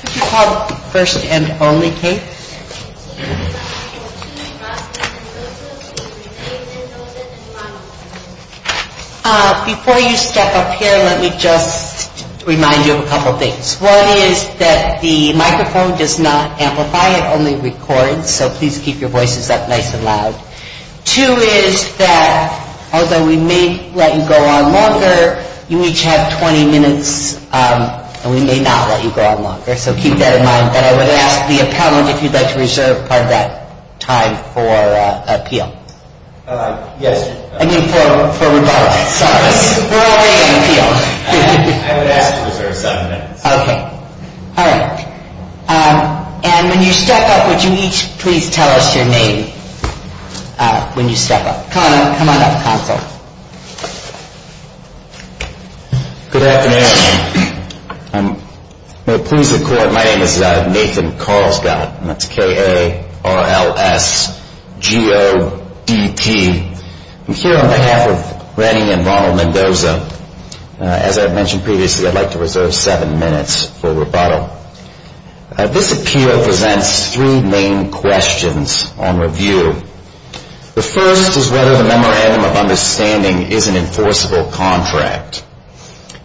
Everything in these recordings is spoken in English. Could you call first and only, Kate? Before you step up here, let me just remind you of a couple of things. One is that the microphone does not amplify, it only records, so please keep your voices up nice and loud. Two is that although we may let you go on longer, you each have 20 minutes, and we may not let you go on longer, so keep that in mind. And I would ask the appellant if you'd like to reserve part of that time for appeal. Yes. I mean for rebuttal. Sorry. We're already in appeal. I would ask to reserve seven minutes. Okay. All right. And when you step up, would you each please tell us your name when you step up. Come on up, counsel. Good afternoon. My name is Nathan Carlsgott, and that's K-A-R-L-S-G-O-D-T. I'm here on behalf of Rennie and Ronald Mendoza. As I've mentioned previously, I'd like to reserve seven minutes for rebuttal. This appeal presents three main questions on review. The first is whether the Memorandum of Understanding is an enforceable contract.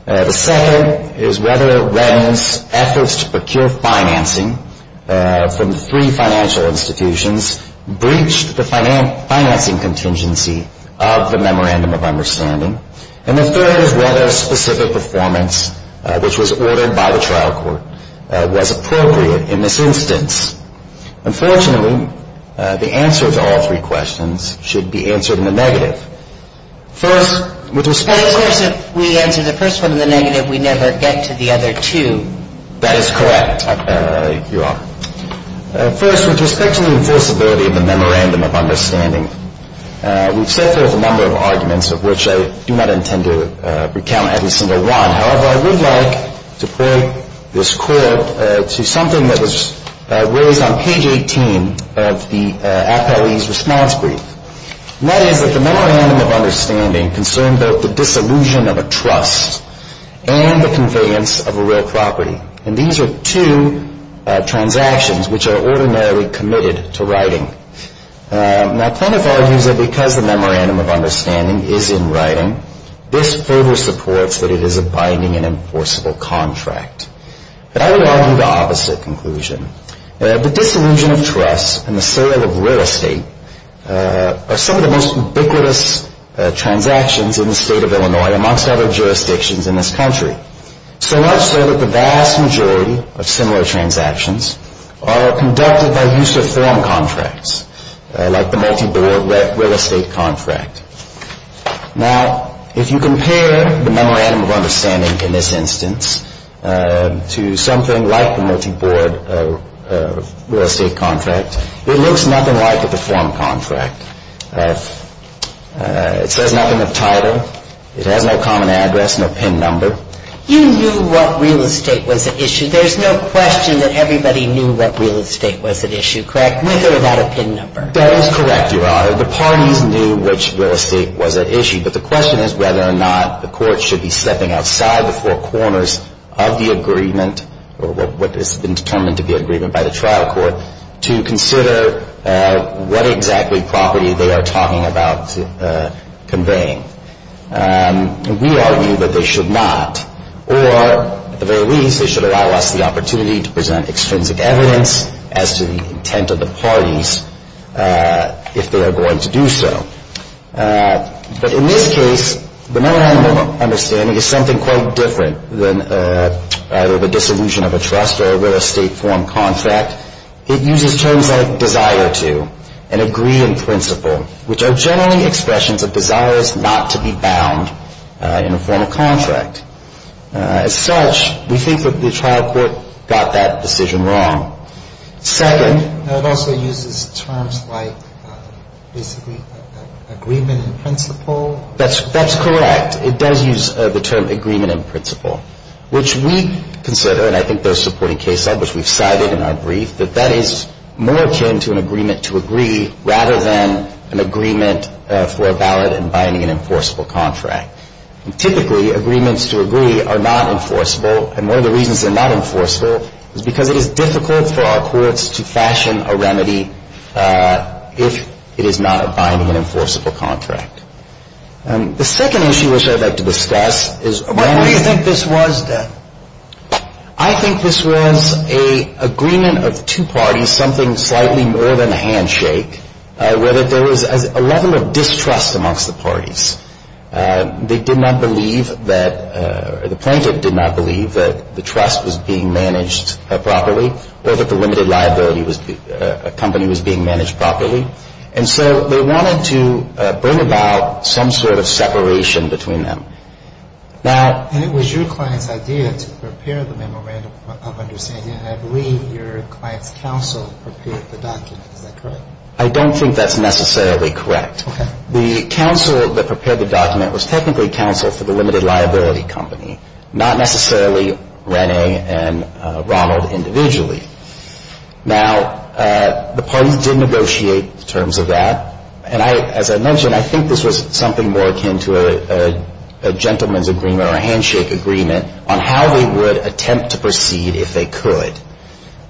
The second is whether Rennie's efforts to procure financing from three financial institutions breached the financing contingency of the Memorandum of Understanding. And the third is whether a specific performance, which was ordered by the trial court, was appropriate in this instance. Unfortunately, the answer to all three questions should be answered in the negative. First, with respect to the... But of course, if we answer the first one in the negative, we never get to the other two. That is correct, Your Honor. First, with respect to the enforceability of the Memorandum of Understanding, we've set forth a number of arguments of which I do not intend to recount every single one. However, I would like to point this court to something that was raised on page 18 of the appellee's response brief. And that is that the Memorandum of Understanding concerned both the disillusion of a trust and the conveyance of a real property. And these are two transactions which are ordinarily committed to writing. Now, Plaintiff argues that because the Memorandum of Understanding is in writing, this further supports that it is a binding and enforceable contract. But I would argue the opposite conclusion. The disillusion of trust and the sale of real estate are some of the most ubiquitous transactions in the state of Illinois, amongst other jurisdictions in this country. So much so that the vast majority of similar transactions are conducted by use of form contracts, like the multi-board real estate contract. Now, if you compare the Memorandum of Understanding in this instance to something like the multi-board real estate contract, it looks nothing like a deformed contract. It says nothing of title. It has no common address, no PIN number. You knew what real estate was at issue. There's no question that everybody knew what real estate was at issue, correct, with or without a PIN number? That is correct, Your Honor. The parties knew which real estate was at issue. But the question is whether or not the court should be stepping outside the four corners of the agreement, or what has been determined to be an agreement by the trial court, to consider what exactly property they are talking about conveying. We argue that they should not. Or, at the very least, they should allow us the opportunity to present extrinsic evidence as to the intent of the parties if they are going to do so. But in this case, the Memorandum of Understanding is something quite different than either the dissolution of a trust or a real estate form contract. It uses terms like desire to and agree in principle, which are generally expressions of desires not to be bound in a form of contract. As such, we think that the trial court got that decision wrong. Second. It also uses terms like basically agreement in principle. That's correct. It does use the term agreement in principle, which we consider, and I think those supporting case law, which we've cited in our brief, that that is more akin to an agreement to agree rather than an agreement for a valid and binding and enforceable contract. And typically, agreements to agree are not enforceable. And one of the reasons they're not enforceable is because it is difficult for our courts to fashion a remedy if it is not a binding and enforceable contract. The second issue which I'd like to discuss is… What do you think this was, then? I think this was an agreement of two parties, something slightly more than a handshake, where there was a level of distrust amongst the parties. They did not believe that – the plaintiff did not believe that the trust was being managed properly or that the limited liability was – a company was being managed properly. And so they wanted to bring about some sort of separation between them. Now… And it was your client's idea to prepare the memorandum of understanding, and I believe your client's counsel prepared the document. Is that correct? I don't think that's necessarily correct. Okay. The counsel that prepared the document was technically counsel for the limited liability company, not necessarily Rene and Ronald individually. Now, the parties did negotiate in terms of that. And I – as I mentioned, I think this was something more akin to a gentleman's agreement or a handshake agreement on how they would attempt to proceed if they could.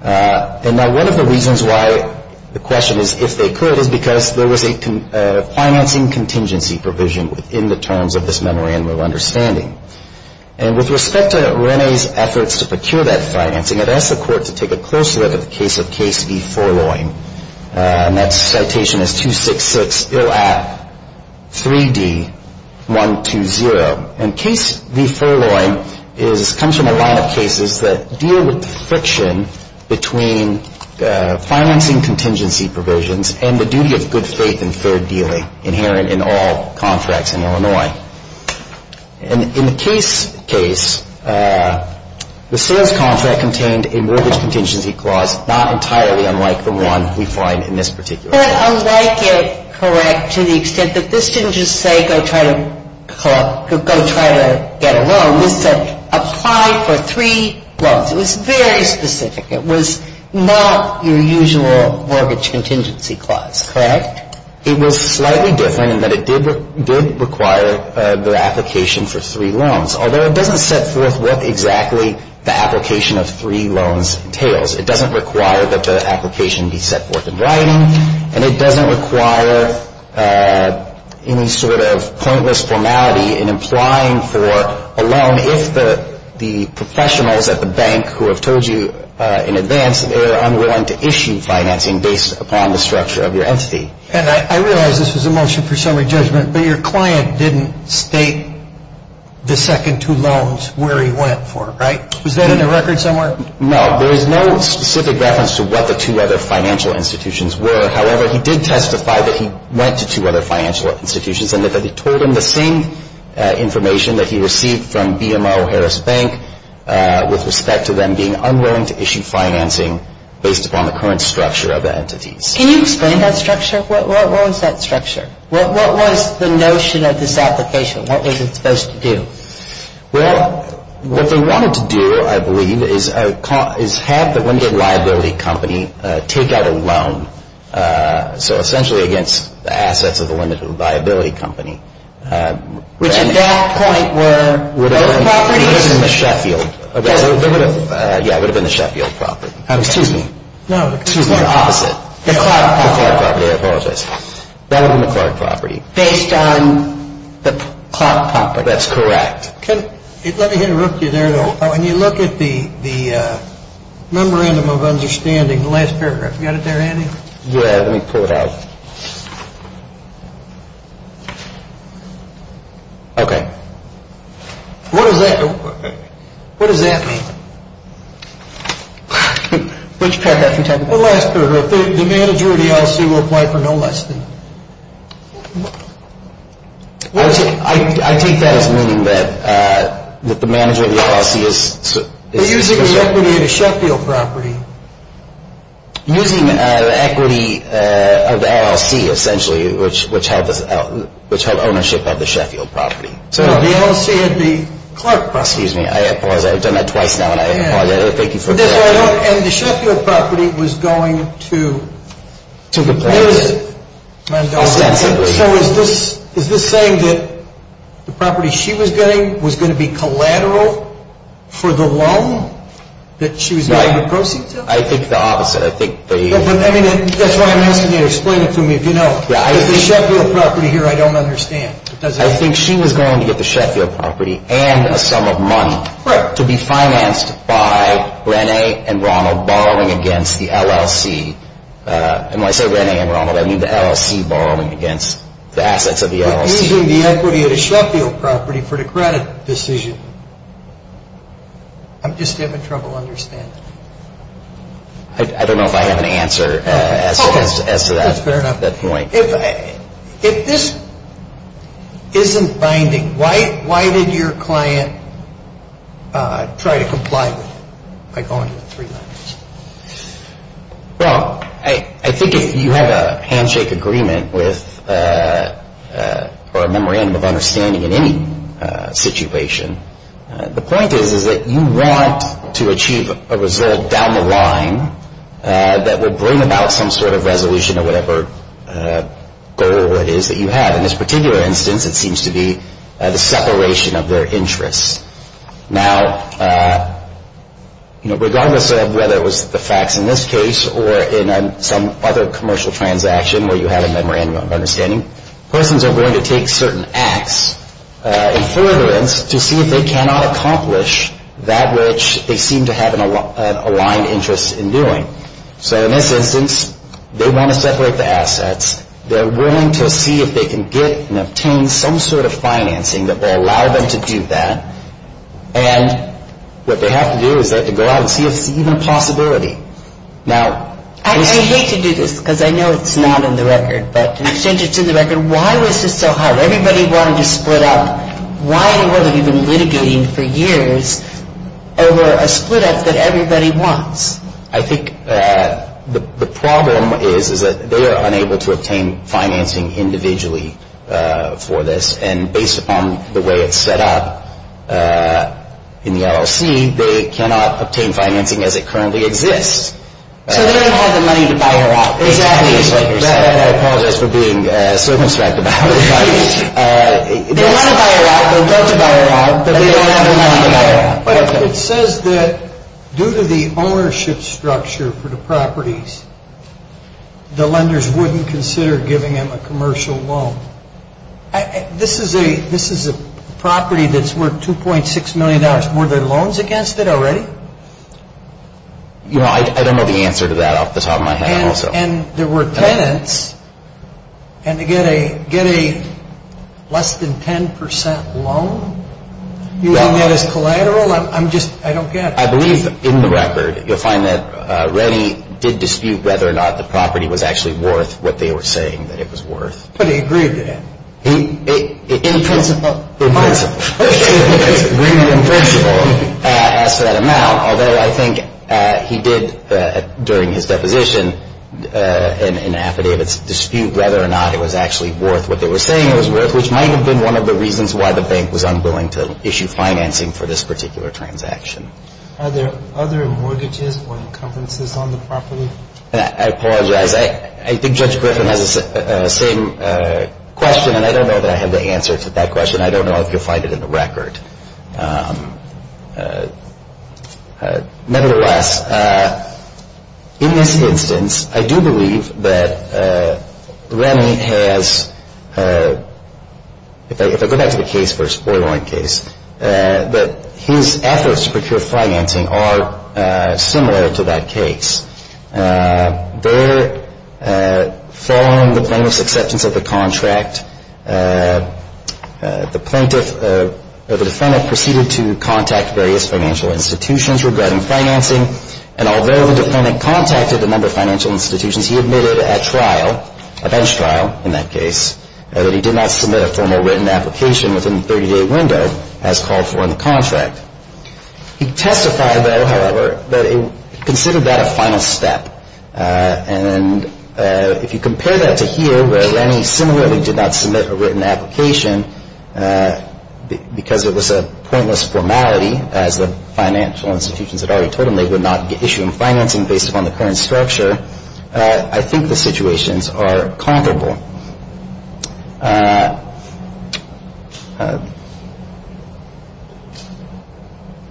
And now, one of the reasons why the question is if they could is because there was a financing contingency provision within the terms of this memorandum of understanding. And with respect to Rene's efforts to procure that financing, I'd ask the Court to take a closer look at the case of Case v. Forloin. And that citation is 266 ill at 3D120. And Case v. Forloin is – comes from a lot of cases that deal with the friction between financing contingency provisions and the duty of good faith and fair dealing inherent in all contracts in Illinois. And in the case – case, the sales contract contained a mortgage contingency clause not entirely unlike the one we find in this particular case. It's not unlike it, correct, to the extent that this didn't just say go try to – go try to get a loan. This said apply for three loans. It was very specific. It was not your usual mortgage contingency clause, correct? It was slightly different in that it did require the application for three loans, although it doesn't set forth what exactly the application of three loans entails. It doesn't require that the application be set forth in writing. And it doesn't require any sort of pointless formality in implying for a loan if the professionals at the bank who have told you in advance they are unwilling to issue financing based upon the structure of your entity. And I realize this was a motion for summary judgment, but your client didn't state the second two loans where he went for, right? Was that in the record somewhere? No. There is no specific reference to what the two other financial institutions were. However, he did testify that he went to two other financial institutions and that he told them the same information that he received from BMO Harris Bank with respect to them being unwilling to issue financing based upon the current structure of the entities. Can you explain that structure? What was that structure? What was the notion of this application? What was it supposed to do? Well, what they wanted to do, I believe, is have the limited liability company take out a loan. So essentially against the assets of the limited liability company. Which at that point were those properties? It would have been the Sheffield. Yeah, it would have been the Sheffield property. Excuse me. No, excuse me. The opposite. The Clark property. The Clark property. I apologize. That would have been the Clark property. Based on the Clark property. That's correct. Let me interrupt you there, though. When you look at the memorandum of understanding, the last paragraph, you got it there, Andy? Yeah, let me pull it out. Okay. What does that mean? Which paragraph are you talking about? The last paragraph. The manager of the LLC will apply for no less than... I take that as meaning that the manager of the LLC is... Using the equity of the Sheffield property. Using the equity of the LLC, essentially, which held ownership of the Sheffield property. No, the LLC had the Clark property. Excuse me. I apologize. I've done that twice now and I apologize. Thank you for... And the Sheffield property was going to... So is this saying that the property she was getting was going to be collateral for the loan that she was getting the proceeds out of? I think the opposite. I think they... That's why I'm asking you to explain it to me, if you know. The Sheffield property here, I don't understand. I think she was going to get the Sheffield property and a sum of money to be financed by Renee and Ronald borrowing against the LLC. And when I say Renee and Ronald, I mean the LLC borrowing against the assets of the LLC. But using the equity of the Sheffield property for the credit decision. I'm just having trouble understanding. I don't know if I have an answer as to that point. That's fair enough. If this isn't binding, why did your client try to comply with it by going to the three letters? Well, I think if you have a handshake agreement or a memorandum of understanding in any situation, the point is that you want to achieve a result down the line that will bring about some sort of resolution of whatever goal it is that you have. In this particular instance, it seems to be the separation of their interests. Now, regardless of whether it was the facts in this case or in some other commercial transaction where you have a memorandum of understanding, persons are going to take certain acts in furtherance to see if they cannot accomplish that which they seem to have an aligned interest in doing. So in this instance, they want to separate the assets. They're willing to see if they can get and obtain some sort of financing that will allow them to do that. And what they have to do is they have to go out and see if it's even a possibility. Now, I hate to do this because I know it's not in the record, but since it's in the record, why was this so hard? Everybody wanted to split up. Why in the world have you been litigating for years over a split up that everybody wants? I think the problem is that they are unable to obtain financing individually for this. And based upon the way it's set up in the LLC, they cannot obtain financing as it currently exists. So they don't have the money to buy her out. Exactly. That I apologize for being so abstract about it. They want to buy her out. They want to buy her out. But they don't have the money to buy her out. It says that due to the ownership structure for the properties, the lenders wouldn't consider giving him a commercial loan. This is a property that's worth $2.6 million. Were there loans against it already? I don't know the answer to that off the top of my head. And there were tenants. And to get a less than 10% loan? You mean that as collateral? I'm just, I don't get it. I believe in the record, you'll find that Rennie did dispute whether or not the property was actually worth what they were saying that it was worth. In principle. In principle. In principle. Asked for that amount. Although I think he did, during his deposition, in affidavits, dispute whether or not it was actually worth what they were saying it was worth, which might have been one of the reasons why the bank was unwilling to issue financing for this particular transaction. Are there other mortgages or encumbrances on the property? I apologize. I think Judge Griffin has the same question. And I don't know that I have the answer to that question. And I don't know if you'll find it in the record. Nevertheless, in this instance, I do believe that Rennie has, if I go back to the case for a spoilering case, that his efforts to procure financing are similar to that case. There, following the plaintiff's acceptance of the contract, the plaintiff, or the defendant, proceeded to contact various financial institutions regarding financing. And although the defendant contacted a number of financial institutions, he admitted at trial, a bench trial in that case, that he did not submit a formal written application within the 30-day window as called for in the contract. He testified, though, however, that he considered that a final step. And if you compare that to here, where Rennie similarly did not submit a written application because it was a pointless formality, as the financial institutions had already told him they would not issue him financing based upon the current structure, I think the situations are comparable.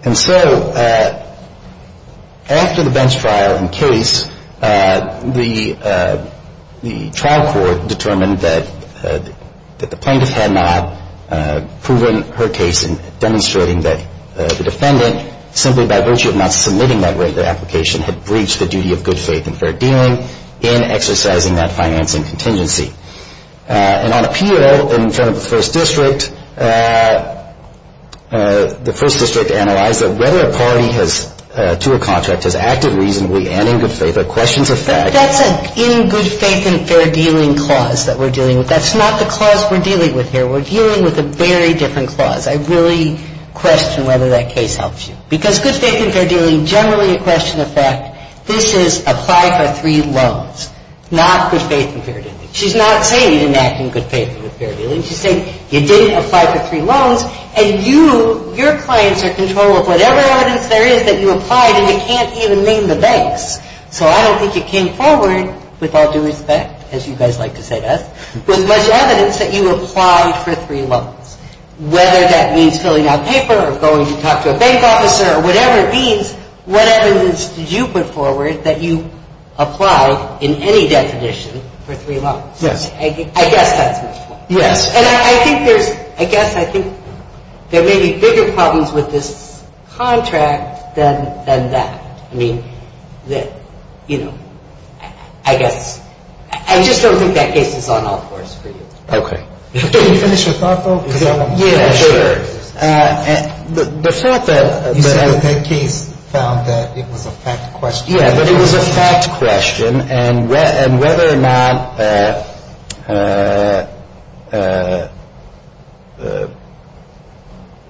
And so after the bench trial in case, the trial court determined that the plaintiff had not proven her case in demonstrating that the defendant, simply by virtue of not submitting that written application, had breached the duty of good faith and fair dealing in exercising that financing contingency. And on appeal, in front of the first district, the first district analyzed that whether a party has, to a contract, has acted reasonably and in good faith are questions of fact. But that's an in good faith and fair dealing clause that we're dealing with. That's not the clause we're dealing with here. We're dealing with a very different clause. I really question whether that case helps you. Because good faith and fair dealing, generally a question of fact, this is apply for three loans, not good faith and fair dealing. She's not saying you didn't act in good faith and fair dealing. She's saying you didn't apply for three loans, and you, your clients are in control of whatever evidence there is that you applied, and you can't even name the banks. So I don't think you came forward, with all due respect, as you guys like to say to us, with much evidence that you applied for three loans. Whether that means filling out paper or going to talk to a bank officer or whatever it means, what evidence did you put forward that you applied in any definition for three loans? Yes. I guess that's my point. Yes. And I think there's, I guess I think there may be bigger problems with this contract than that. I mean, you know, I guess, I just don't think that case is on all fours for you. Okay. Can you finish your thought, though? Yeah, sure. The fact that... You said that case found that it was a fact question. Yeah, but it was a fact question, and whether or not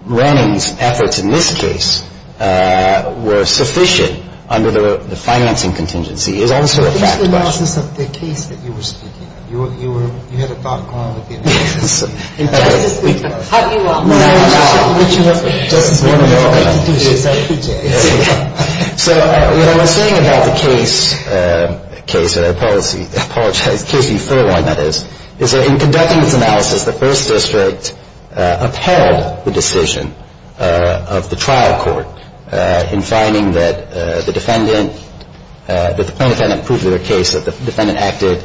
Renning's efforts in this case were sufficient under the financing contingency is also a fact question. What is the analysis of the case that you were speaking of? You had a thought going with the analysis. In just this week. How do you want... No, no. Just this morning...... So what I was saying about the case, case, policy... I apologize. Case E-4, that is, is that in conducting its analysis, the first district upheld the decision of the trial court in finding that the defendant, that the plaintiff had not proved their case, that the defendant acted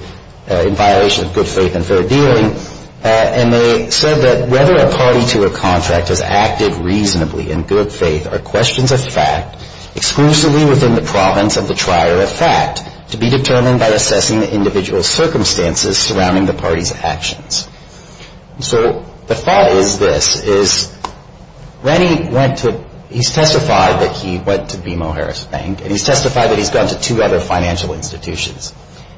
in violation of good faith and fair dealing. And they said that whether a party to a contract has acted reasonably in good faith are questions of fact exclusively within the province of the trier of fact to be determined by assessing the individual circumstances surrounding the party's actions. So the thought is this, is Renning went to... He's testified that he went to BMO Harris Bank, and he's testified that he's gone to two other financial institutions.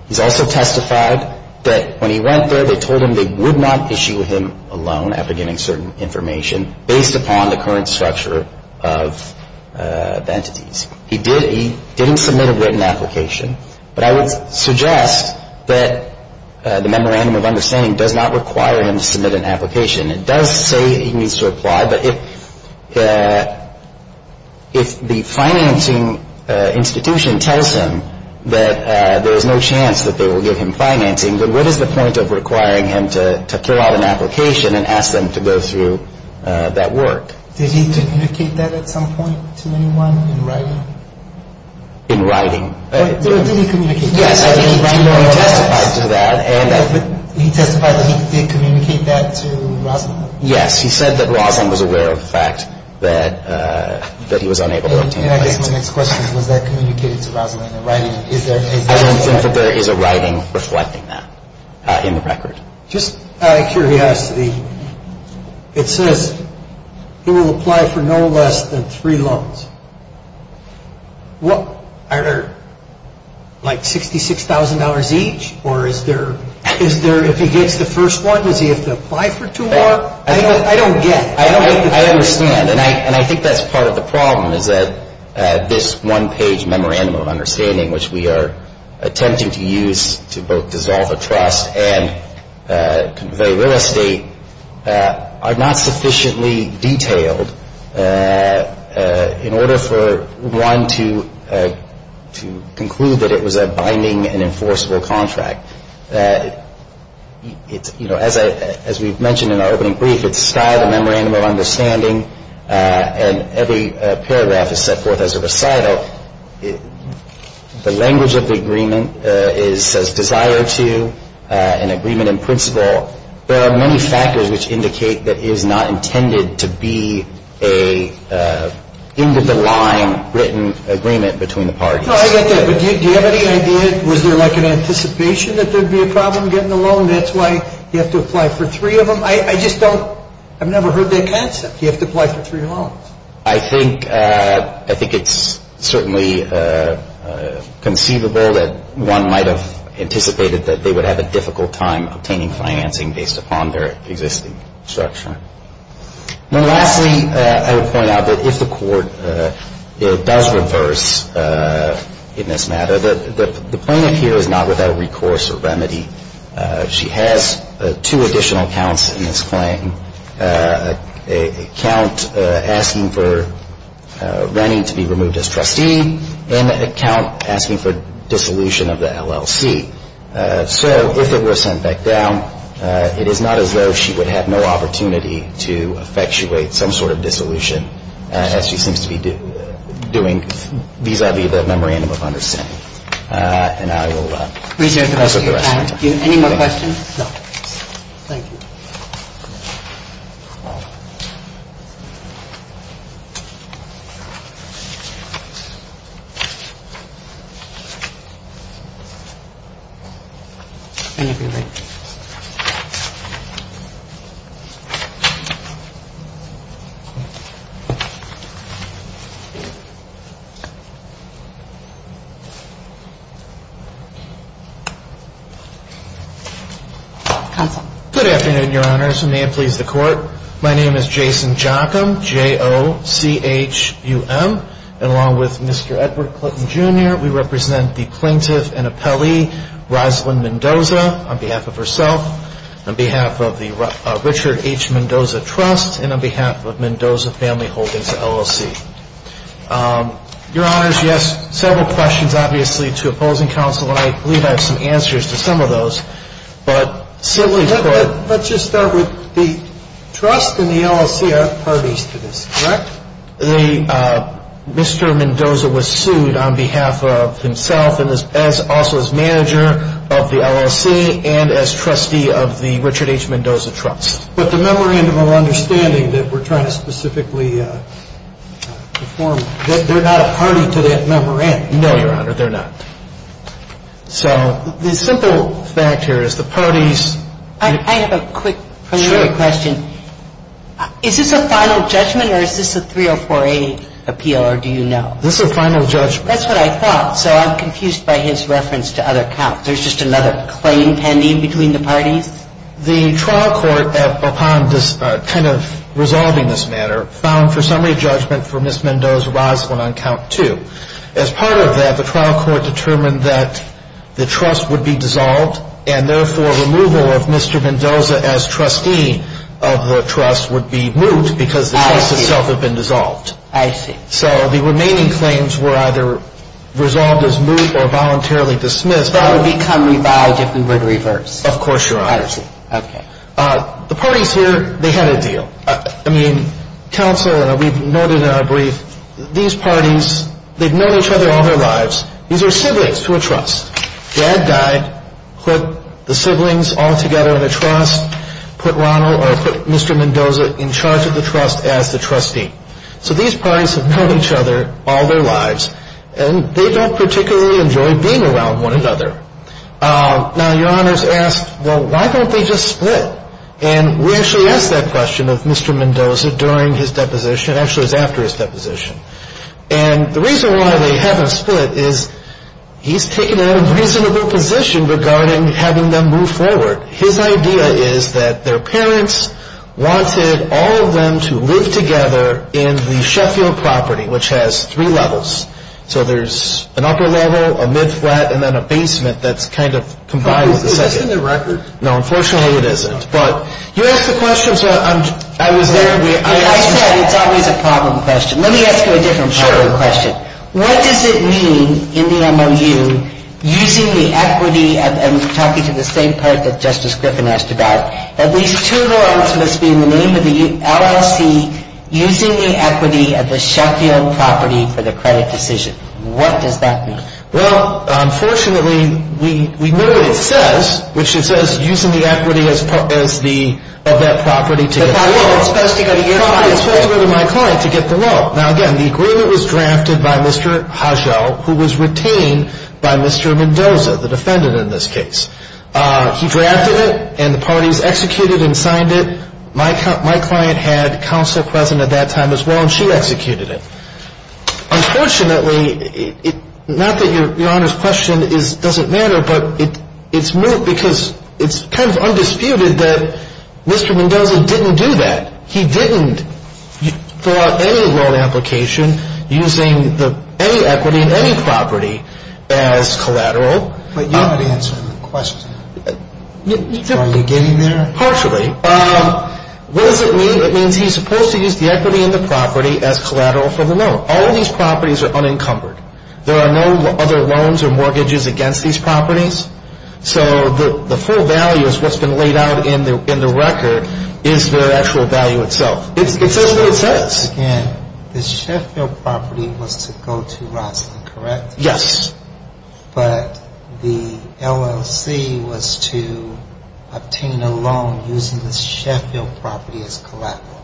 He's also testified that when he went there, they told him they would not issue him a loan after giving certain information based upon the current structure of the entities. He did... He didn't submit a written application, but I would suggest that the memorandum of understanding does not require him to submit an application. It does say he needs to apply, but if the financing institution tells him that there is no chance that they will give him financing, then what is the point of requiring him to fill out an application and ask them to go through that work? Did he communicate that at some point to anyone in writing? In writing. What did he communicate? Yes, I think he testified to that. He testified that he did communicate that to Roslyn. Yes, he said that Roslyn was aware of the fact that he was unable to obtain financing. And I guess my next question is, was that communicated to Roslyn in writing? I don't think that there is a writing reflecting that in the record. Just out of curiosity, it says he will apply for no less than three loans. Are there like $66,000 each, or is there... I don't get... I understand. And I think that's part of the problem is that this one-page memorandum of understanding, which we are attempting to use to both dissolve a trust and convey real estate, are not sufficiently detailed in order for one to conclude that it was a binding and enforceable contract. As we've mentioned in our opening brief, it's a Skyler Memorandum of Understanding, and every paragraph is set forth as a recital. The language of the agreement says desire to, an agreement in principle. There are many factors which indicate that it is not intended to be an end-of-the-line written agreement between the parties. No, I get that. But do you have any idea, was there like an anticipation? That there would be a problem getting a loan, that's why you have to apply for three of them? I just don't... I've never heard that concept. You have to apply for three loans. I think it's certainly conceivable that one might have anticipated that they would have a difficult time obtaining financing based upon their existing structure. And lastly, I would point out that if the court does reverse in this matter, the plaintiff here is not without recourse or remedy. She has two additional counts in this claim, a count asking for Rennie to be removed as trustee, and a count asking for dissolution of the LLC. So if it were sent back down, it is not as though she would have no opportunity to effectuate some sort of dissolution as she seems to be doing vis-à-vis the memorandum of understanding. And I will... Reserve the rest of your time. Any more questions? No. Thank you. Thank you. Counsel. Good afternoon, Your Honors, and may it please the Court. My name is Jason Jockum, J-O-C-H-U-M. And along with Mr. Edward Clinton, Jr., we represent the plaintiff and appellee Rosalyn Mendoza. On behalf of herself, on behalf of the Richard H. Mendoza Trust, and on behalf of Mendoza Family Holdings LLC. Your Honors, you asked several questions, obviously, to opposing counsel, and I believe I have some answers to some of those. But simply put... Let's just start with the Trust and the LLC are parties to this, correct? Mr. Mendoza was sued on behalf of himself and also as manager of the LLC and as trustee of the Richard H. Mendoza Trust. But the memorandum of understanding that we're trying to specifically perform, they're not a party to that memorandum. No, Your Honor, they're not. So the simple fact here is the parties... I have a quick preliminary question. Sure. Is this a final judgment or is this a 304A appeal, or do you know? This is a final judgment. That's what I thought. So I'm confused by his reference to other counts. There's just another claim pending between the parties? The trial court, upon kind of resolving this matter, found for summary judgment for Ms. Mendoza Rosalyn on count two. And therefore, removal of Mr. Mendoza as trustee of the Trust would be moot because the case itself had been dissolved. I see. So the remaining claims were either resolved as moot or voluntarily dismissed. That would become revolved if we were to reverse. Of course, Your Honor. I see. Okay. The parties here, they had a deal. I mean, counsel, we've noted in our brief, these parties, they've known each other all their lives. These are siblings to a trust. Dad died, put the siblings all together in a trust, put Mr. Mendoza in charge of the trust as the trustee. So these parties have known each other all their lives, and they don't particularly enjoy being around one another. Now, Your Honor's asked, well, why don't they just split? And we actually asked that question of Mr. Mendoza during his deposition. Actually, it was after his deposition. And the reason why they haven't split is he's taken a reasonable position regarding having them move forward. His idea is that their parents wanted all of them to live together in the Sheffield property, which has three levels. So there's an upper level, a mid-flat, and then a basement that's kind of combined with the second. Is this in the record? No, unfortunately, it isn't. But you asked the question, so I was there. I said it's always a problem question. Let me ask you a different problem question. Sure. What does it mean in the MOU, using the equity, and I'm talking to the same part that Justice Griffin asked about, that these two loans must be in the name of the LLC using the equity of the Sheffield property for the credit decision? What does that mean? Well, unfortunately, we know what it says, which it says using the equity of that property to get the loan. It's supposed to go to your client. It's supposed to go to my client to get the loan. Now, again, the agreement was drafted by Mr. Hodgeau, who was retained by Mr. Mendoza, the defendant in this case. He drafted it, and the parties executed and signed it. My client had counsel present at that time as well, and she executed it. Unfortunately, not that Your Honor's question doesn't matter, but it's kind of undisputed that Mr. Mendoza didn't do that. He didn't fill out any loan application using any equity in any property as collateral. But you're not answering the question. Are you getting there? Partially. What does it mean? It means he's supposed to use the equity in the property as collateral for the loan. All of these properties are unencumbered. There are no other loans or mortgages against these properties. So the full value is what's been laid out in the record is their actual value itself. It says what it says. Again, the Sheffield property was to go to Rosslyn, correct? Yes. But the LLC was to obtain a loan using the Sheffield property as collateral.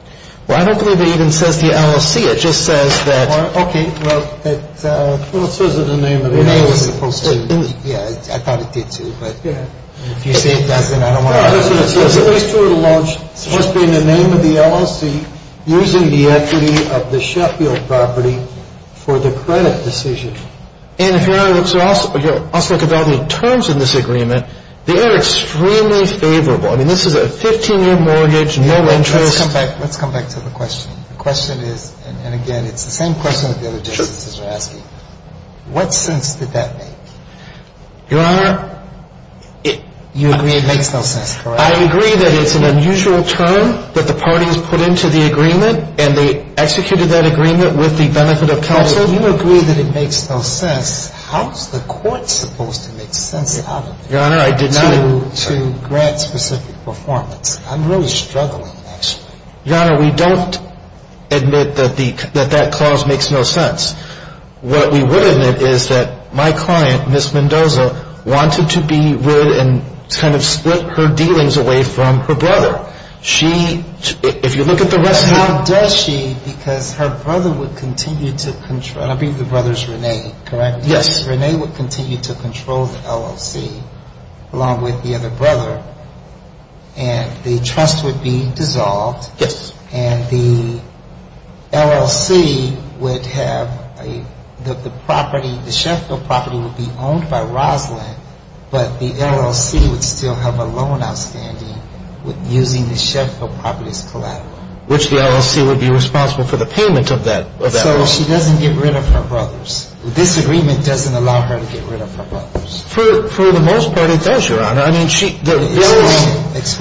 Well, I don't believe it even says the LLC. It just says that. Okay. Well, it says it in the name of the LLC. Yeah, I thought it did, too. But if you say it doesn't, I don't want to. It's supposed to be in the name of the LLC using the equity of the Sheffield property for the credit decision. And if Your Honor, let's look at all the terms in this agreement. They are extremely favorable. I mean, this is a 15-year mortgage, no interest. Let's come back to the question. The question is, and again, it's the same question that the other justices are asking. Sure. What sense did that make? Your Honor, you agree it makes no sense, correct? I agree that it's an unusual term that the parties put into the agreement, and they executed that agreement with the benefit of counsel. So you agree that it makes no sense. How is the court supposed to make sense out of it to grant specific performance? I'm really struggling, actually. Your Honor, we don't admit that that clause makes no sense. What we would admit is that my client, Ms. Mendoza, wanted to be rid and kind of split her dealings away from her brother. If you look at the rest of it. How does she, because her brother would continue to control, and I believe the brother is Rene, correct? Yes. Rene would continue to control the LLC along with the other brother, and the trust would be dissolved. Yes. And the LLC would have the property, the Sheffield property would be owned by Roslyn, but the LLC would still have a loan outstanding using the Sheffield property as collateral. Which the LLC would be responsible for the payment of that loan. So she doesn't get rid of her brothers. This agreement doesn't allow her to get rid of her brothers. For the most part, it does, Your Honor. Explain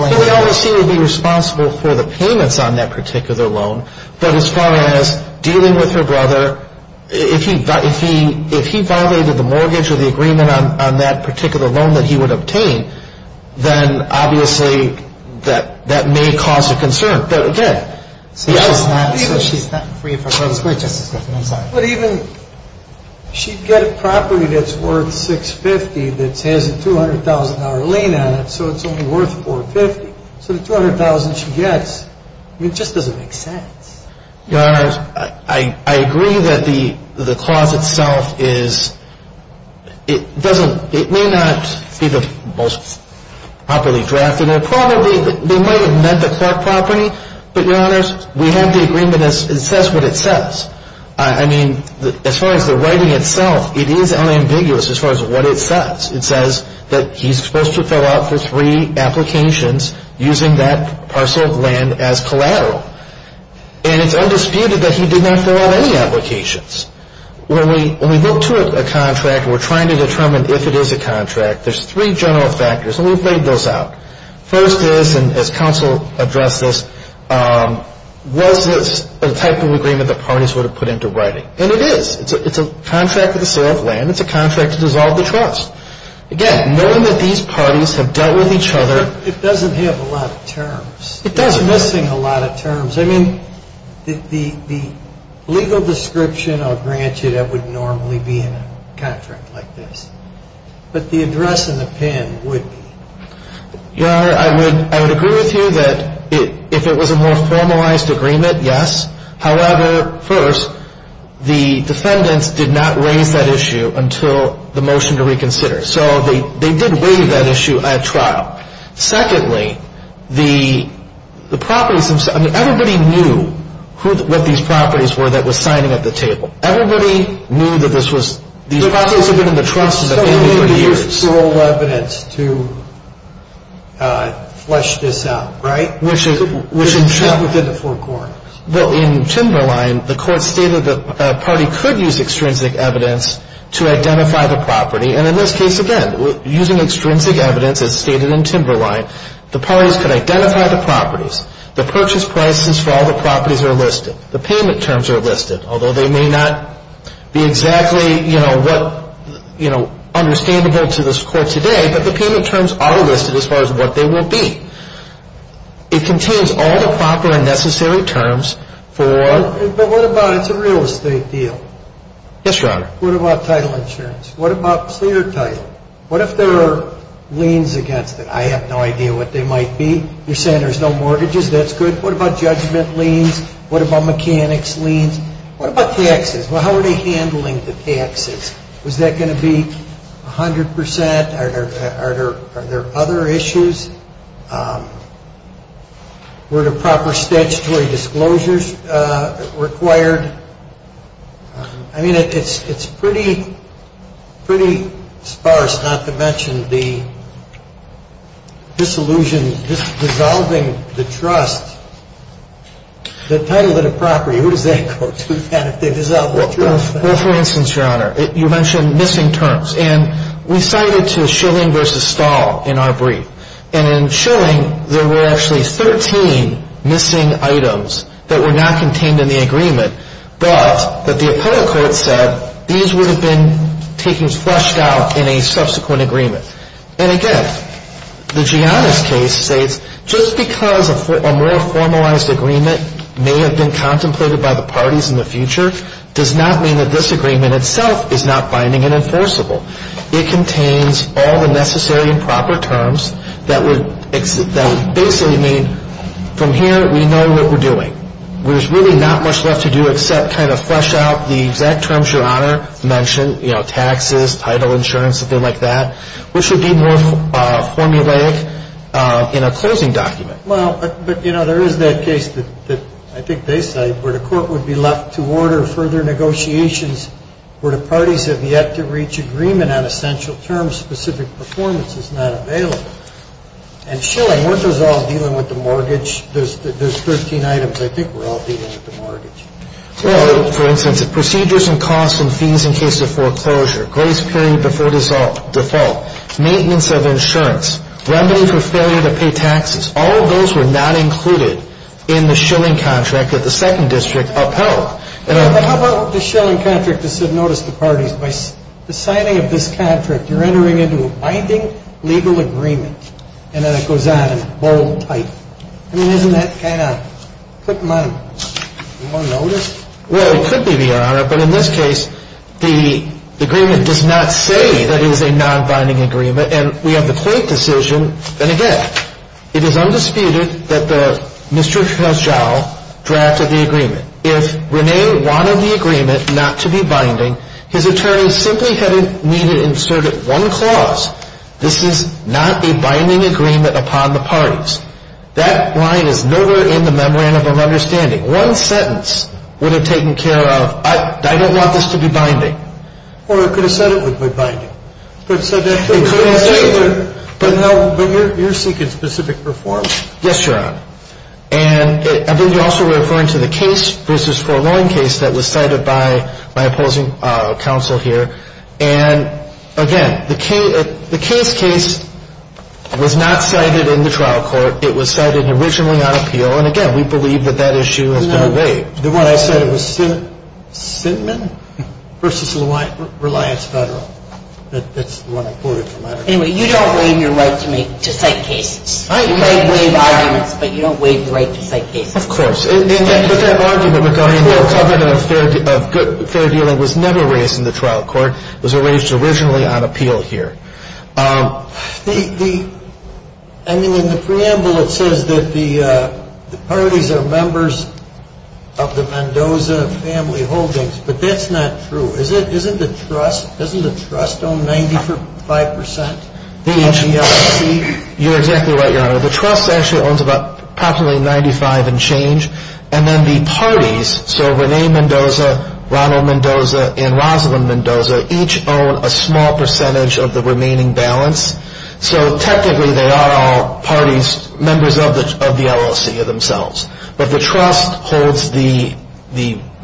it. The LLC would be responsible for the payments on that particular loan, but as far as dealing with her brother, if he violated the mortgage or the agreement on that particular loan that he would obtain, then obviously that may cause a concern. But again, yes. So she's not free of her brothers. But even, she'd get a property that's worth $650,000 that has a $200,000 lien on it, so it's only worth $450,000. So the $200,000 she gets, it just doesn't make sense. Your Honor, I agree that the clause itself is, it doesn't, it may not be the most properly drafted. It probably, they might have meant the Clark property, but Your Honors, we have the agreement, it says what it says. I mean, as far as the writing itself, it is unambiguous as far as what it says. It says that he's supposed to fill out the three applications using that parcel of land as collateral. And it's undisputed that he did not fill out any applications. When we look to a contract and we're trying to determine if it is a contract, there's three general factors, and we've laid those out. First is, and as counsel addressed this, was this a type of agreement the parties would have put into writing? And it is. It's a contract with the sale of land. It's a contract to dissolve the trust. Again, knowing that these parties have dealt with each other. It doesn't have a lot of terms. It does missing a lot of terms. I mean, the legal description, I'll grant you, that would normally be in a contract like this. But the address in the pen would be. Your Honor, I would agree with you that if it was a more formalized agreement, yes. However, first, the defendants did not raise that issue until the motion to reconsider. So they did waive that issue at trial. Secondly, the properties themselves. I mean, everybody knew what these properties were that were signing at the table. Everybody knew that this was. These properties had been in the trust for many, many years. So nobody used parole evidence to flesh this out, right? Which is. Within the four courts. Well, in Timberline, the court stated that a party could use extrinsic evidence to identify the property. And in this case, again, using extrinsic evidence as stated in Timberline. The parties could identify the properties. The purchase prices for all the properties are listed. The payment terms are listed. Although they may not be exactly, you know, what, you know, understandable to this court today. But the payment terms are listed as far as what they will be. It contains all the proper and necessary terms for. But what about it's a real estate deal? Yes, Your Honor. What about title insurance? What about clear title? What if there are liens against it? I have no idea what they might be. You're saying there's no mortgages. That's good. What about judgment liens? What about mechanics liens? What about taxes? Well, how are they handling the taxes? Was that going to be 100%? Are there other issues? Were there proper statutory disclosures required? I mean, it's pretty sparse not to mention the disillusion, dissolving the trust, the title of the property. Who does that go to then if they dissolve the trust? Well, for instance, Your Honor, you mentioned missing terms. And we cited to Schilling v. Stahl in our brief. And in Schilling, there were actually 13 missing items that were not contained in the agreement. But the appellate court said these would have been taken flushed out in a subsequent agreement. And again, the Gianna's case states just because a more formalized agreement may have been contemplated by the parties in the future does not mean that this agreement itself is not binding and enforceable. It contains all the necessary and proper terms that basically mean from here we know what we're doing. There's really not much left to do except kind of flush out the exact terms Your Honor mentioned, you know, taxes, title, insurance, something like that, which would be more formulaic in a closing document. Well, but, you know, there is that case that I think they cite where the court would be left to order further negotiations where the parties have yet to reach agreement on essential terms, specific performance is not available. And Schilling, weren't those all dealing with the mortgage? There's 13 items. I think we're all dealing with the mortgage. Well, for instance, if procedures and costs and fees in case of foreclosure, grace period before default, maintenance of insurance, remedy for failure to pay taxes, all of those were not included in the Schilling contract that the second district upheld. But how about the Schilling contract that said notice the parties. By the signing of this contract, you're entering into a binding legal agreement. And then it goes on in bold type. I mean, isn't that kind of quick money? You want to notice? Well, it could be, Your Honor. But in this case, the agreement does not say that it is a non-binding agreement. And we have the court decision. And again, it is undisputed that Mr. Herschel drafted the agreement. If Rene wanted the agreement not to be binding, his attorney simply had needed to insert one clause, this is not a binding agreement upon the parties. That line is nowhere in the memorandum of understanding. One sentence would have taken care of, I don't want this to be binding. Or it could have said it would be binding. Yes, Your Honor. And I think you're also referring to the case versus foregoing case that was cited by my opposing counsel here. And, again, the case case was not cited in the trial court. It was cited originally on appeal. And, again, we believe that that issue has been waived. The one I cited was Sinman versus Reliance Federal. That's the one I quoted from. Anyway, you don't waive your right to cite cases. You might waive arguments, but you don't waive your right to cite cases. Of course. But that argument regarding the covenant of fair dealing was never raised in the trial court. It was raised originally on appeal here. I mean, in the preamble it says that the parties are members of the Mendoza family holdings. But that's not true. Isn't the trust owned 95 percent of the LLC? You're exactly right, Your Honor. The trust actually owns about approximately 95 and change. And then the parties, so Renee Mendoza, Ronald Mendoza, and Rosalind Mendoza, each own a small percentage of the remaining balance. So, technically, they are all parties, members of the LLC themselves. But the trust holds the,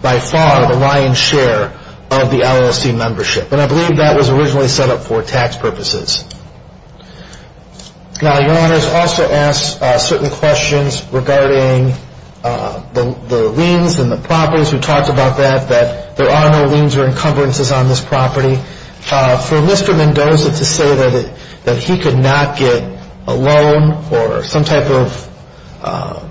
by far, the lion's share of the LLC membership. And I believe that was originally set up for tax purposes. Now, Your Honor has also asked certain questions regarding the liens and the properties. We talked about that, that there are no liens or encumbrances on this property. For Mr. Mendoza to say that he could not get a loan or some type of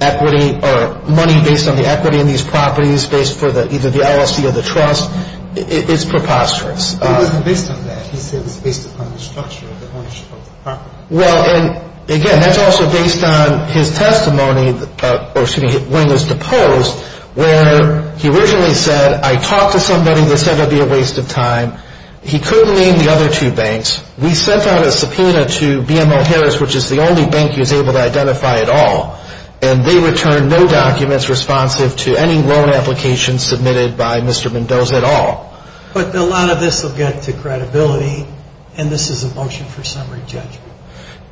equity or money based on the equity in these properties, based for either the LLC or the trust, is preposterous. It wasn't based on that. He said it was based upon the structure of the ownership of the property. Well, and, again, that's also based on his testimony when he was deposed, where he originally said, I talked to somebody that said it would be a waste of time. He couldn't name the other two banks. We sent out a subpoena to BMO Harris, which is the only bank he was able to identify at all. And they returned no documents responsive to any loan applications submitted by Mr. Mendoza at all. But a lot of this will get to credibility, and this is a motion for summary judgment.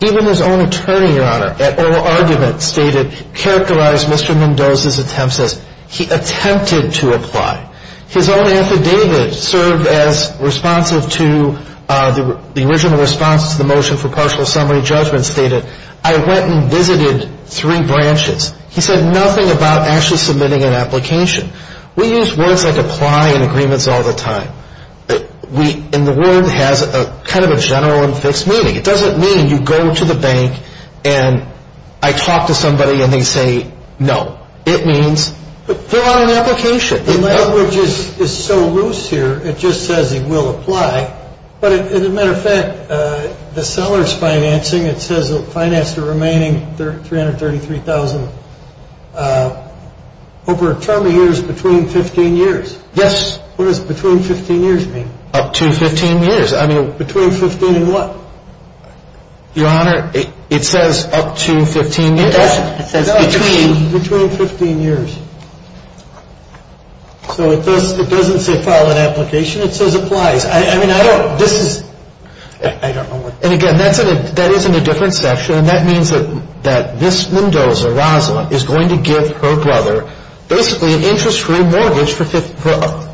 Even his own attorney, Your Honor, at oral argument stated, characterized Mr. Mendoza's attempts as he attempted to apply. His own affidavit served as responsive to the original response to the motion for partial summary judgment stated, I went and visited three branches. He said nothing about actually submitting an application. We use words like apply in agreements all the time. And the word has kind of a general and fixed meaning. It doesn't mean you go to the bank and I talk to somebody and they say no. It means they're on an application. The language is so loose here, it just says he will apply. But as a matter of fact, the seller is financing. It says it will finance the remaining $333,000 over a term of years between 15 years. Yes. What does between 15 years mean? Up to 15 years. I mean, between 15 and what? Your Honor, it says up to 15 years. It doesn't. It says between 15 years. So it doesn't say file an application. It says applies. I mean, I don't, this is, I don't know what. And, again, that is in a different section, and that means that this Mendoza, Rosalind, is going to give her brother basically an interest-free mortgage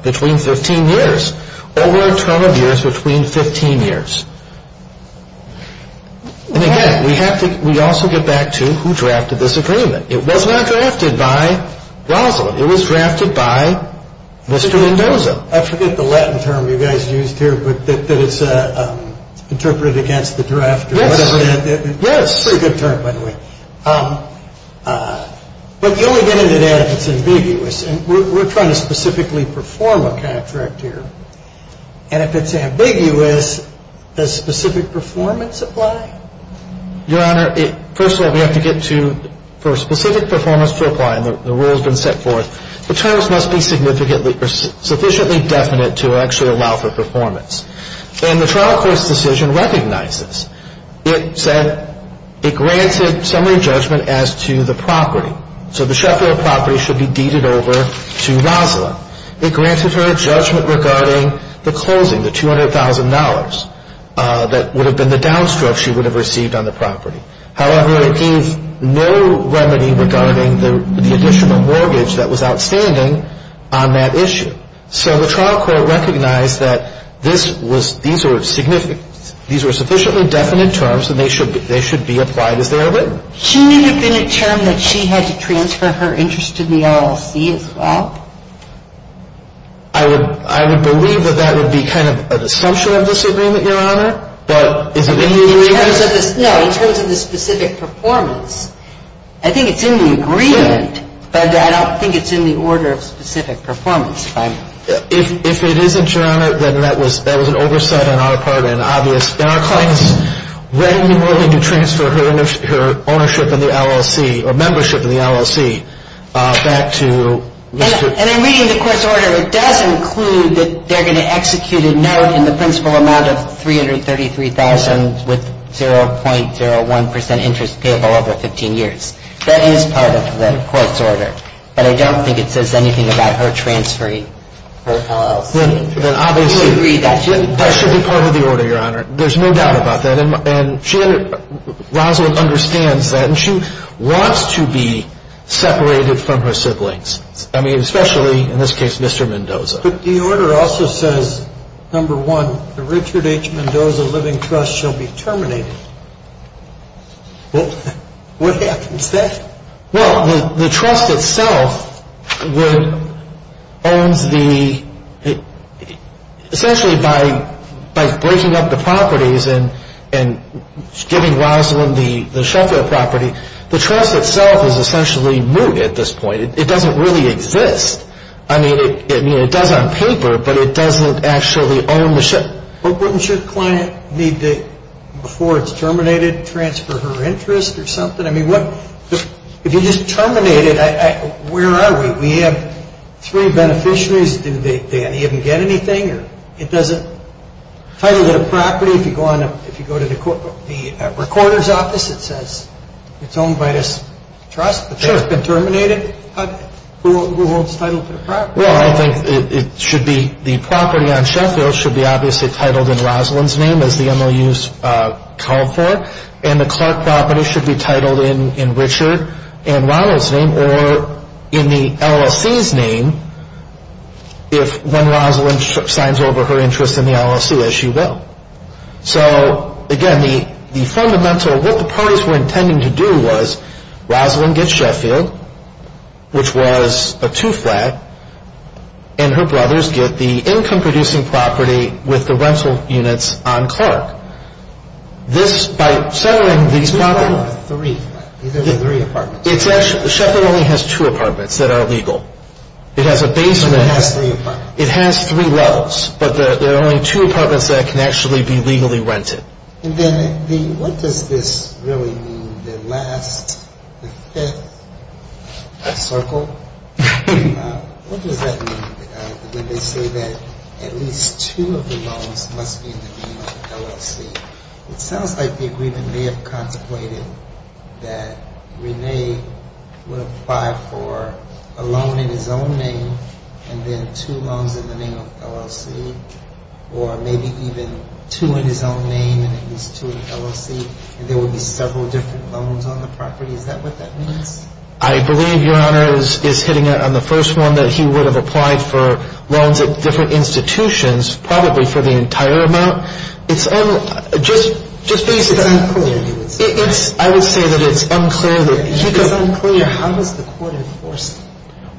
between 15 years. Over a term of years between 15 years. And, again, we also get back to who drafted this agreement. It was not drafted by Rosalind. It was drafted by Mr. Mendoza. Mendoza. I forget the Latin term you guys used here, but that it's interpreted against the draft or whatever that is. Yes. It's a pretty good term, by the way. But you only get into that if it's ambiguous. And we're trying to specifically perform a contract here. And if it's ambiguous, does specific performance apply? Your Honor, first of all, we have to get to, for specific performance to apply, and the rule has been set forth, the terms must be sufficiently definite to actually allow for performance. And the trial court's decision recognizes. It said it granted summary judgment as to the property. So the Sheffield property should be deeded over to Rosalind. It granted her a judgment regarding the closing, the $200,000 that would have been the downstroke she would have received on the property. However, it gave no remedy regarding the additional mortgage that was outstanding on that issue. So the trial court recognized that these were sufficiently definite terms and they should be applied as they are written. Shouldn't it have been a term that she had to transfer her interest to the LLC as well? I would believe that that would be kind of an assumption of disagreement, Your Honor. In terms of the specific performance, I think it's in the agreement, but I don't think it's in the order of specific performance. If it isn't, Your Honor, then that was an oversight on our part and obvious. And our claim is readily willing to transfer her ownership of the LLC or membership of the LLC back to Mr. And I'm reading the court's order. It does include that they're going to execute a note in the principal amount of $333,000 with 0.01% interest payable over 15 years. That is part of the court's order. But I don't think it says anything about her transferring her LLC. Then obviously, that should be part of the order, Your Honor. There's no doubt about that. And Rosalind understands that. And she wants to be separated from her siblings. I mean, especially, in this case, Mr. Mendoza. But the order also says, number one, the Richard H. Mendoza Living Trust shall be terminated. Well, what happens then? Well, the trust itself would owns the – essentially by breaking up the properties and giving Rosalind the shelter property, the trust itself is essentially mooted at this point. It doesn't really exist. I mean, it does on paper, but it doesn't actually own the – But wouldn't your client need to, before it's terminated, transfer her interest or something? I mean, if you just terminate it, where are we? We have three beneficiaries. Do they even get anything? It doesn't – title of the property, if you go to the recorder's office, it says it's owned by this trust. If it's been terminated, who holds title to the property? Well, I think it should be – the property on Sheffield should be obviously titled in Rosalind's name, as the MOUs called for. And the Clark property should be titled in Richard and Ronald's name or in the LLC's name, when Rosalind signs over her interest in the LLC, as she will. So, again, the fundamental – what the parties were intending to do was, Rosalind gets Sheffield, which was a two-flat, and her brothers get the income-producing property with the rental units on Clark. This – by settling these properties – Two-flat or three-flat? These are the three apartments. It's actually – Sheffield only has two apartments that are legal. It has a basement – It only has three apartments. It has three levels, but there are only two apartments that can actually be legally rented. And then the – what does this really mean, the last – the fifth circle? What does that mean, when they say that at least two of the loans must be in the name of the LLC? It sounds like the agreement may have contemplated that Rene would apply for a loan in his own name and then two loans in the name of the LLC, or maybe even two in his own name and at least two in the LLC, and there would be several different loans on the property. Is that what that means? I believe, Your Honor, is hitting it on the first one, that he would have applied for loans at different institutions, probably for the entire amount. It's – just based on – It's unclear, he would say. It's – I would say that it's unclear that – If it's unclear, how does the court enforce it?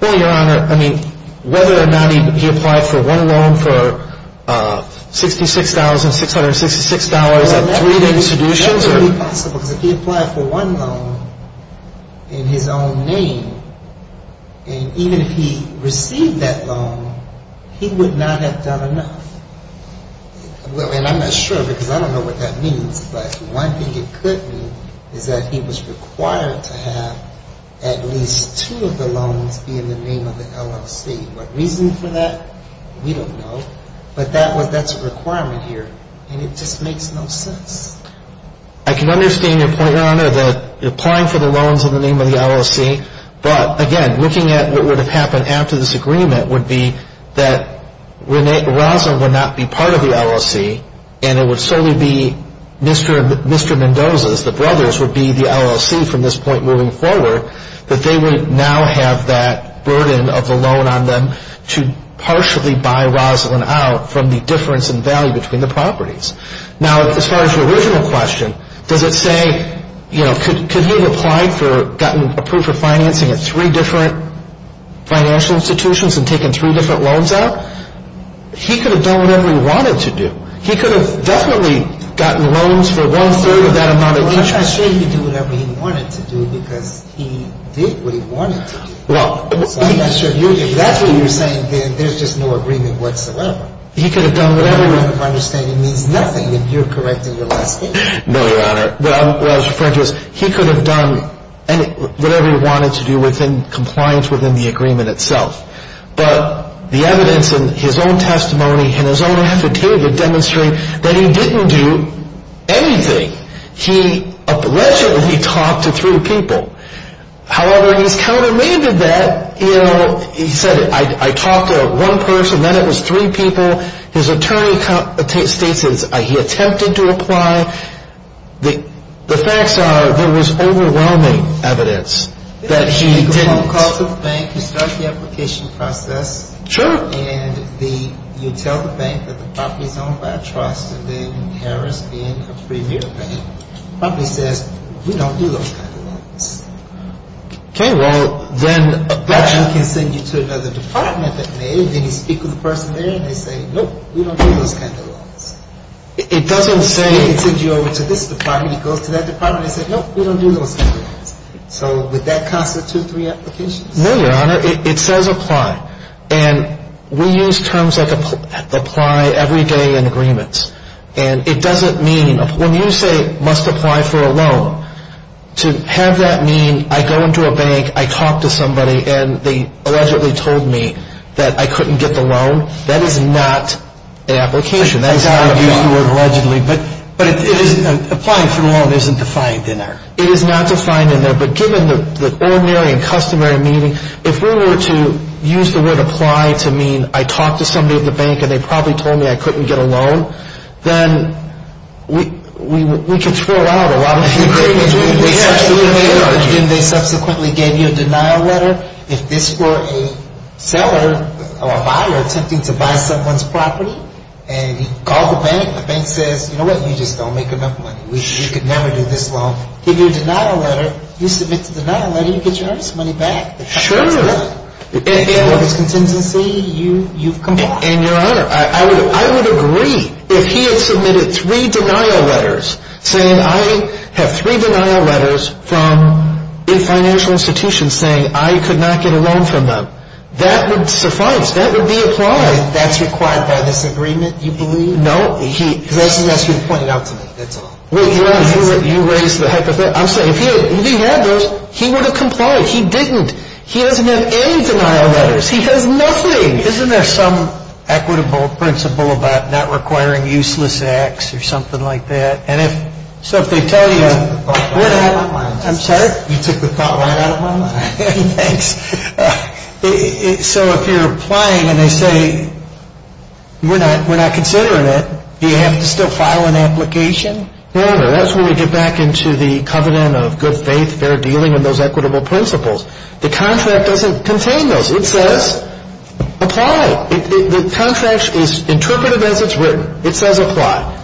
Well, Your Honor, I mean, whether or not he applied for one loan for $66,666 at three different institutions or – That would be possible, because if he applied for one loan in his own name, and even if he received that loan, he would not have done enough. And I'm not sure, because I don't know what that means, but one thing it could mean is that he was required to have at least two of the loans be in the name of the LLC. What reason for that, we don't know, but that's a requirement here, and it just makes no sense. I can understand your point, Your Honor, that applying for the loans in the name of the LLC, but, again, looking at what would have happened after this agreement would be that Rosalynn would not be part of the LLC, and it would solely be Mr. Mendoza's – the brothers would be the LLC from this point moving forward, but they would now have that burden of the loan on them to partially buy Rosalynn out from the difference in value between the properties. Now, as far as your original question, does it say – Could he have applied for – gotten approved for financing at three different financial institutions and taken three different loans out? He could have done whatever he wanted to do. He could have definitely gotten loans for one-third of that amount of interest. Well, I'm not sure he could do whatever he wanted to do because he did what he wanted to do. Well – So I'm not sure. If that's what you're saying, then there's just no agreement whatsoever. He could have done whatever – My understanding means nothing if you're correcting your last statement. No, Your Honor. He could have done whatever he wanted to do within compliance within the agreement itself. But the evidence in his own testimony and his own affidavit demonstrate that he didn't do anything. He allegedly talked to three people. However, he's countermeasured that. You know, he said, I talked to one person, then it was three people. His attorney states he attempted to apply. The facts are there was overwhelming evidence that he didn't – He made a phone call to the bank. He started the application process. Sure. And you tell the bank that the property is owned by a trust. And then Harris, being a premier bank, probably says, we don't do those kind of loans. Okay. Well, then – Nope, we don't do those kind of loans. It doesn't say – It sends you over to this department. It goes to that department. It says, nope, we don't do those kind of loans. So would that constitute three applications? No, Your Honor. It says apply. And we use terms like apply every day in agreements. And it doesn't mean – when you say must apply for a loan, to have that mean I go into a bank, I talk to somebody, and they allegedly told me that I couldn't get the loan, that is not an application. That's how you use the word allegedly. But it is – applying for a loan isn't defined in there. It is not defined in there. But given the ordinary and customary meaning, if we were to use the word apply to mean I talked to somebody at the bank, and they probably told me I couldn't get a loan, then we can throw out a lot of – Didn't they subsequently give you a denial letter? If this were a seller or a buyer attempting to buy someone's property, and he called the bank, the bank says, you know what? You just don't make enough money. You could never do this loan. Give you a denial letter. You submit the denial letter. You get your earnest money back. Sure. If there was contingency, you comply. And, Your Honor, I would agree. If he had submitted three denial letters, saying I have three denial letters from a financial institution saying I could not get a loan from them, that would suffice. That would be apply. That's required by this agreement, you believe? No. Unless you point it out to me, that's all. Well, Your Honor, you raise the hypothetical. I'm saying if he had those, he would have complied. He didn't. He doesn't have any denial letters. He has nothing. Isn't there some equitable principle about not requiring useless acts or something like that? And if – so if they tell you – You took the thought right out of my mind. I'm sorry? Thanks. So if you're applying and they say we're not considering it, do you have to still file an application? No, Your Honor, that's when we get back into the covenant of good faith, fair dealing, and those equitable principles. The contract doesn't contain those. It says apply. The contract is interpreted as it's written. It says apply.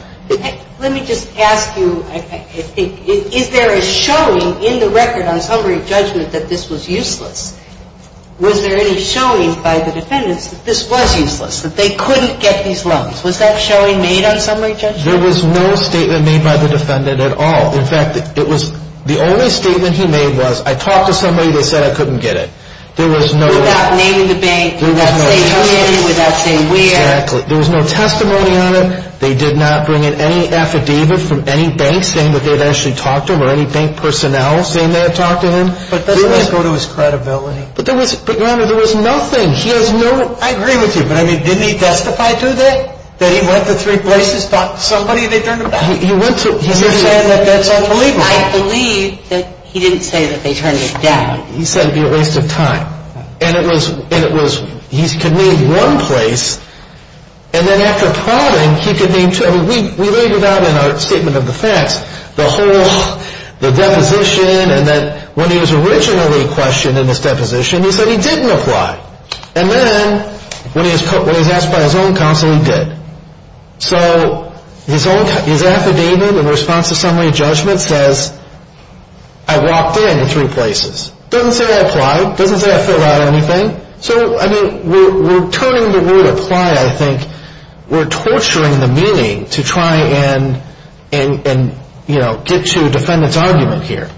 Let me just ask you, I think, is there a showing in the record on summary judgment that this was useless? Was there any showing by the defendants that this was useless, that they couldn't get these loans? Was that showing made on summary judgment? There was no statement made by the defendant at all. In fact, it was – the only statement he made was I talked to somebody, they said I couldn't get it. There was no – Without naming the bank, without saying who did it, without saying where. Exactly. There was no testimony on it. They did not bring in any affidavit from any bank saying that they had actually talked to him or any bank personnel saying they had talked to him. But that doesn't go to his credibility. But, Your Honor, there was nothing. He has no – I agree with you. But, I mean, didn't he testify to that, that he went to three places, talked to somebody, and they turned him down? He went to – You're saying that that's unbelievable. I believe that he didn't say that they turned him down. He said it would be a waste of time. And it was – he convened one place, and then after promulgating, he convened two. I mean, we laid it out in our statement of the facts, the whole – the deposition, and then when he was originally questioned in this deposition, he said he didn't apply. And then when he was asked by his own counsel, he did. So his affidavit in response to summary of judgment says I walked in three places. It doesn't say I applied. It doesn't say I filled out anything. So, I mean, we're turning the word apply, I think. We're torturing the meaning to try and, you know, get to a defendant's argument here.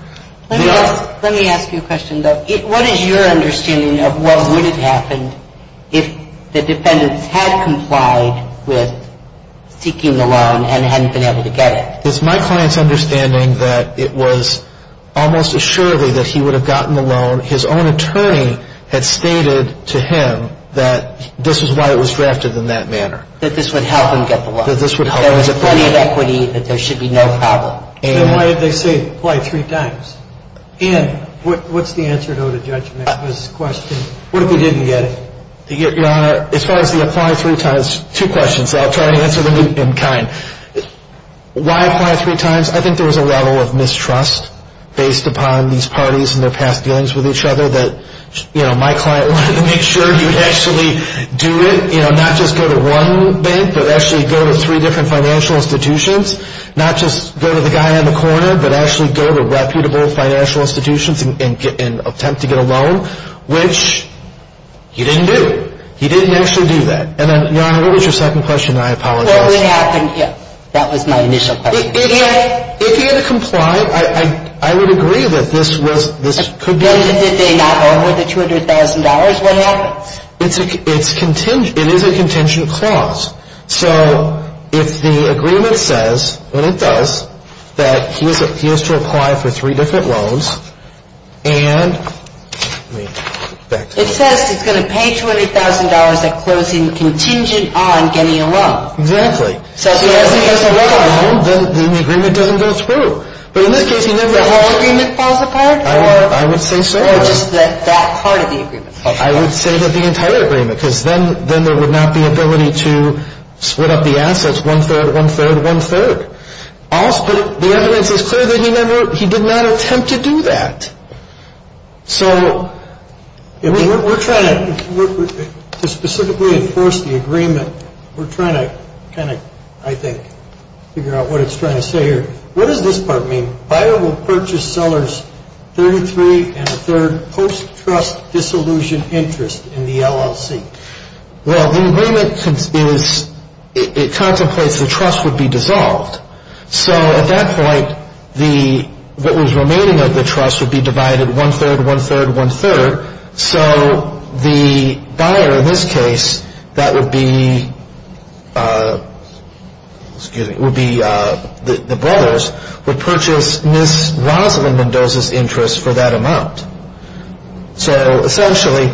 Let me ask you a question, though. What is your understanding of what would have happened if the defendants had complied with seeking the loan and hadn't been able to get it? It's my client's understanding that it was almost assuredly that he would have gotten the loan. His own attorney had stated to him that this was why it was drafted in that manner. That this would help him get the loan. That this would help him get the loan. That there was plenty of equity, that there should be no problem. Then why did they say apply three times? And what's the answer, though, to Judge Mappa's question? What if he didn't get it? Your Honor, as far as the apply three times, two questions. I'll try to answer them in kind. Why apply three times? I think there was a level of mistrust based upon these parties and their past dealings with each other that, you know, my client wanted to make sure he would actually do it. You know, not just go to one bank, but actually go to three different financial institutions. Not just go to the guy on the corner, but actually go to reputable financial institutions and attempt to get a loan, which he didn't do. He didn't actually do that. And then, Your Honor, what was your second question? I apologize. What would have happened here? That was my initial question. If he had complied, I would agree that this could be... But if they got over the $200,000, what happens? It's contingent. It is a contingent clause. So if the agreement says, and it does, that he has to apply for three different loans and... It says he's going to pay $200,000 at closing contingent on getting a loan. Exactly. So if he has to work on a loan, then the agreement doesn't go through. But in this case, he never... The whole agreement falls apart? I would say so. Or just that part of the agreement? I would say that the entire agreement, because then there would not be ability to split up the assets one-third, one-third, one-third. But the evidence is clear that he did not attempt to do that. So we're trying to specifically enforce the agreement. We're trying to kind of, I think, figure out what it's trying to say here. What does this part mean? Buyer will purchase seller's 33 and a third post-trust disillusioned interest in the LLC. Well, the agreement is... It contemplates the trust would be dissolved. So at that point, what was remaining of the trust would be divided one-third, one-third, one-third. So the buyer in this case, that would be the brothers, would purchase Ms. Rosalyn Mendoza's interest for that amount. So essentially,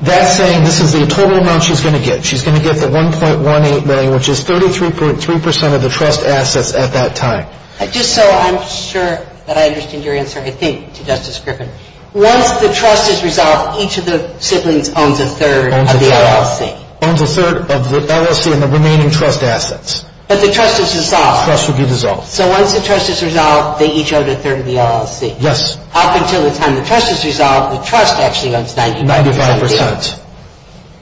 that's saying this is the total amount she's going to get. She's going to get the $1.18 million, which is 33.3% of the trust assets at that time. Just so I'm sure that I understand your answer, I think, to Justice Griffin, once the trust is resolved, each of the siblings owns a third of the LLC. Owns a third of the LLC and the remaining trust assets. But the trust is dissolved. Trust would be dissolved. So once the trust is resolved, they each own a third of the LLC. Yes. Up until the time the trust is resolved, the trust actually owns 95%. 95%.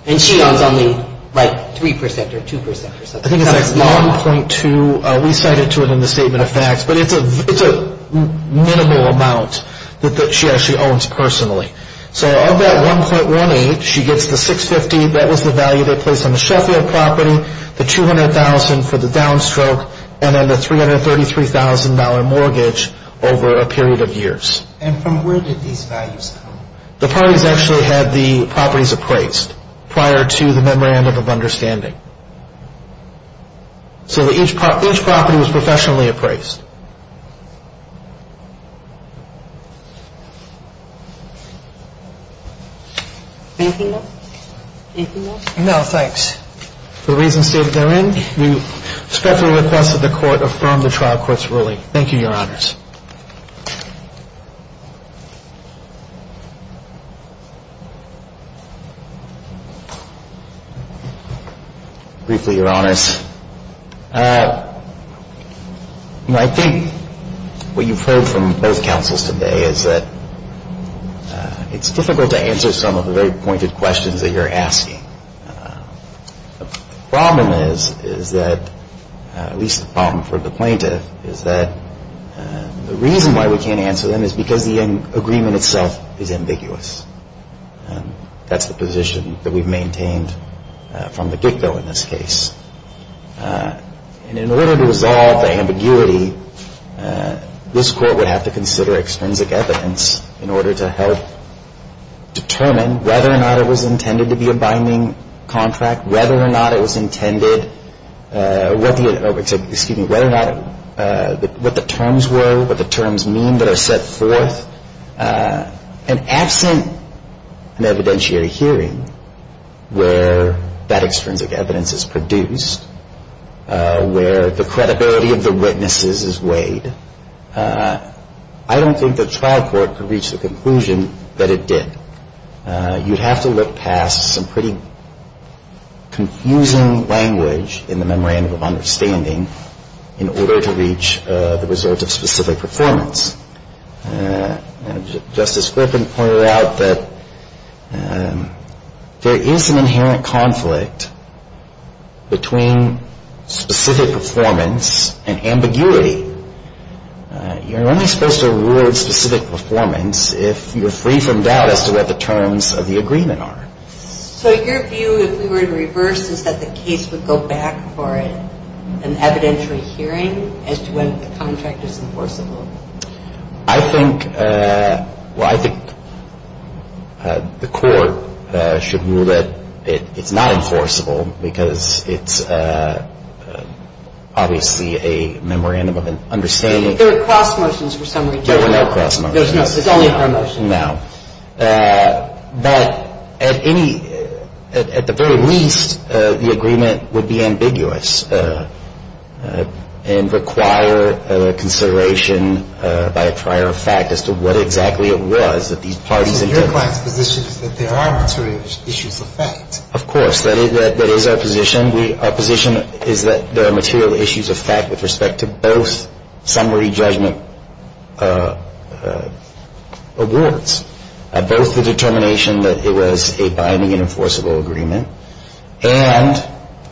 And she owns only, like, 3% or 2%. I think it's like 1.2. We cited to it in the statement of facts. But it's a minimal amount that she actually owns personally. So of that $1.18, she gets the $650. That was the value they placed on the Sheffield property, the $200,000 for the downstroke, and then the $333,000 mortgage over a period of years. And from where did these values come? The parties actually had the properties appraised prior to the memorandum of understanding. So each property was professionally appraised. Anything else? Anything else? No, thanks. For the reasons stated therein, we respectfully request that the Court affirm the trial court's ruling. Thank you, Your Honors. Briefly, Your Honors, I think what you've heard from both counsels today is that it's difficult to answer some of the very pointed questions that you're asking. The problem is that, at least the problem for the plaintiff, is that the reason why we can't answer them is because the agreement itself is ambiguous. And that's the position that we've maintained from the get-go in this case. And in order to resolve the ambiguity, this Court would have to consider extrinsic evidence in order to help determine whether or not it was intended to be a binding contract, whether or not it was intended, what the terms were, what the terms mean that are set forth. And absent an evidentiary hearing where that extrinsic evidence is produced, where the credibility of the witnesses is weighed, I don't think the trial court could reach the conclusion that it did. You'd have to look past some pretty confusing language in the memorandum of understanding in order to reach the result of specific performance. Justice Griffin pointed out that there is an inherent conflict between specific performance and ambiguity. You're only supposed to rule specific performance if you're free from doubt as to what the terms of the agreement are. So your view, if we were to reverse, is that the case would go back for an evidentiary hearing as to when the contract is enforceable? I think the Court should rule that it's not enforceable because it's obviously a memorandum of understanding. There were cross-motions for some reason. There were no cross-motions. No. But at the very least, the agreement would be ambiguous and require consideration by a prior fact as to what exactly it was that these parties intended. So your client's position is that there are material issues of fact? Of course. That is our position. Our position is that there are material issues of fact with respect to both summary judgment awards, both the determination that it was a binding and enforceable agreement, and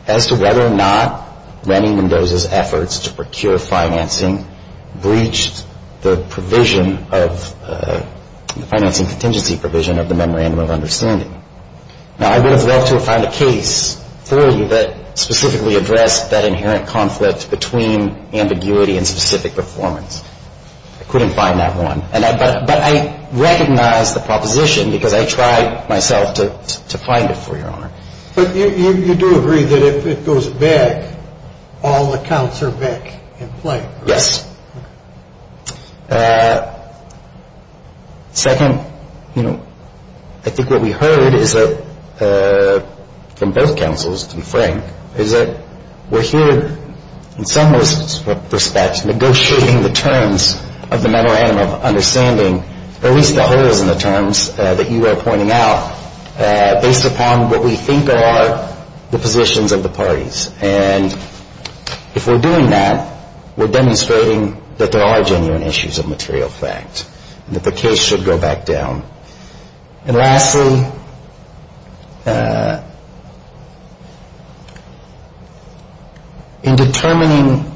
as to whether or not Randy Mendoza's efforts to procure financing breached the financing contingency provision of the memorandum of understanding. Now, I would have loved to have found a case for you that specifically addressed that inherent conflict between ambiguity and specific performance. I couldn't find that one. But I recognize the proposition because I tried myself to find it, Your Honor. But you do agree that if it goes back, all accounts are back in play? Yes. Second, you know, I think what we heard is that from both counsels, to be frank, is that we're here in some respects negotiating the terms of the memorandum of understanding, at least the holes in the terms that you are pointing out, based upon what we think are the positions of the parties. And if we're doing that, we're demonstrating that there are genuine issues of material fact, and that the case should go back down. And lastly, in determining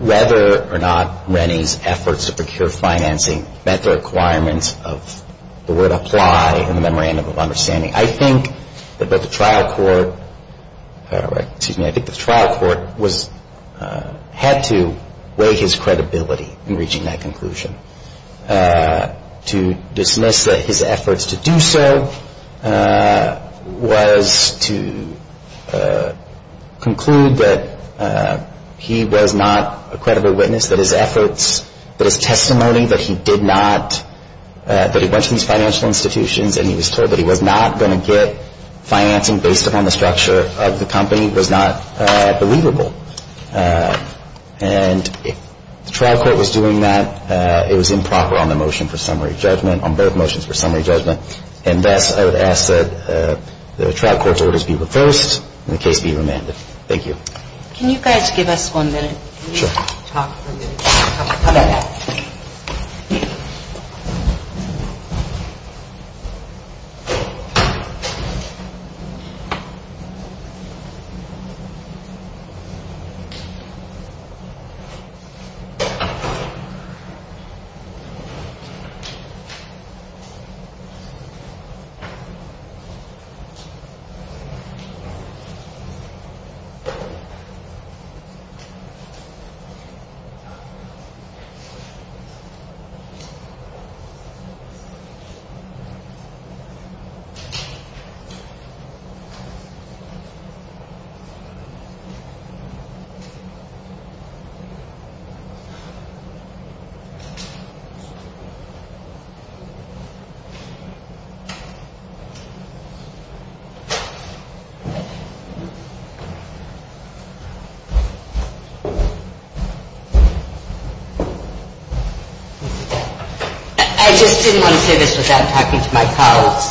whether or not Randy's efforts to procure financing met the requirements of the word apply in the memorandum of understanding, I think that the trial court had to weigh his credibility in reaching that conclusion. To dismiss his efforts to do so was to conclude that he was not a credible witness, that his efforts, that his testimony, that he did not, that he went to these financial institutions and he was told that he was not going to get financing based upon the structure of the company was not believable. And the trial court was doing that. It was improper on the motion for summary judgment, on both motions for summary judgment. And thus, I would ask that the trial court's orders be reversed and the case be remanded. Thank you. Can you guys give us one minute? Sure. Thank you. Thank you. I just didn't want to say this without talking to my colleagues,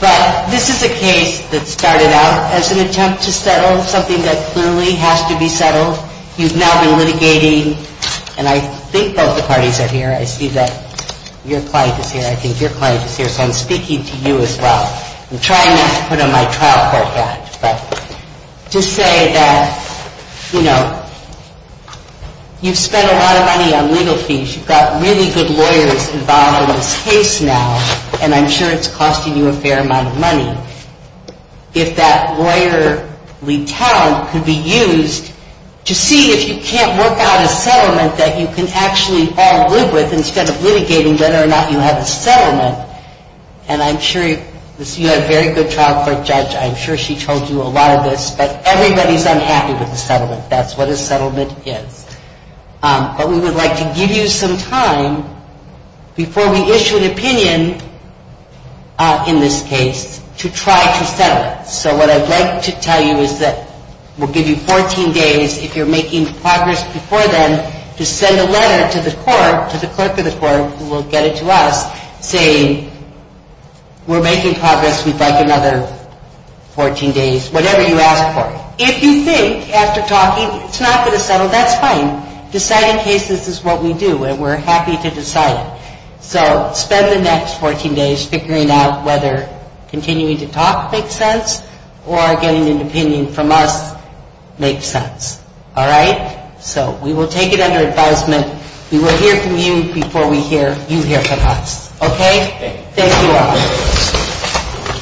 but this is a case that started out as an attempt to settle something that clearly has to be settled. You've now been litigating, and I think both the parties are here. I see that your client is here. I think your client is here, so I'm speaking to you as well. I'm trying not to put on my trial court hat, but to say that, you know, you've spent a lot of money on legal fees. You've got really good lawyers involved in this case now, and I'm sure it's costing you a fair amount of money. If that lawyer retell could be used to see if you can't work out a settlement that you can actually all live with instead of litigating whether or not you have a settlement, and I'm sure you had a very good trial court judge. I'm sure she told you a lot of this, but everybody's unhappy with the settlement. That's what a settlement is. But we would like to give you some time before we issue an opinion in this case to try to settle it. So what I'd like to tell you is that we'll give you 14 days if you're making progress before then to send a letter to the court, to the clerk of the court, who will get it to us, saying we're making progress. We'd like another 14 days, whatever you ask for. If you think after talking it's not going to settle, that's fine. Decide in case this is what we do, and we're happy to decide it. So spend the next 14 days figuring out whether continuing to talk makes sense or getting an opinion from us makes sense. All right? So we will take it under advisement. We will hear from you before we hear you hear from us. Okay? Thank you all.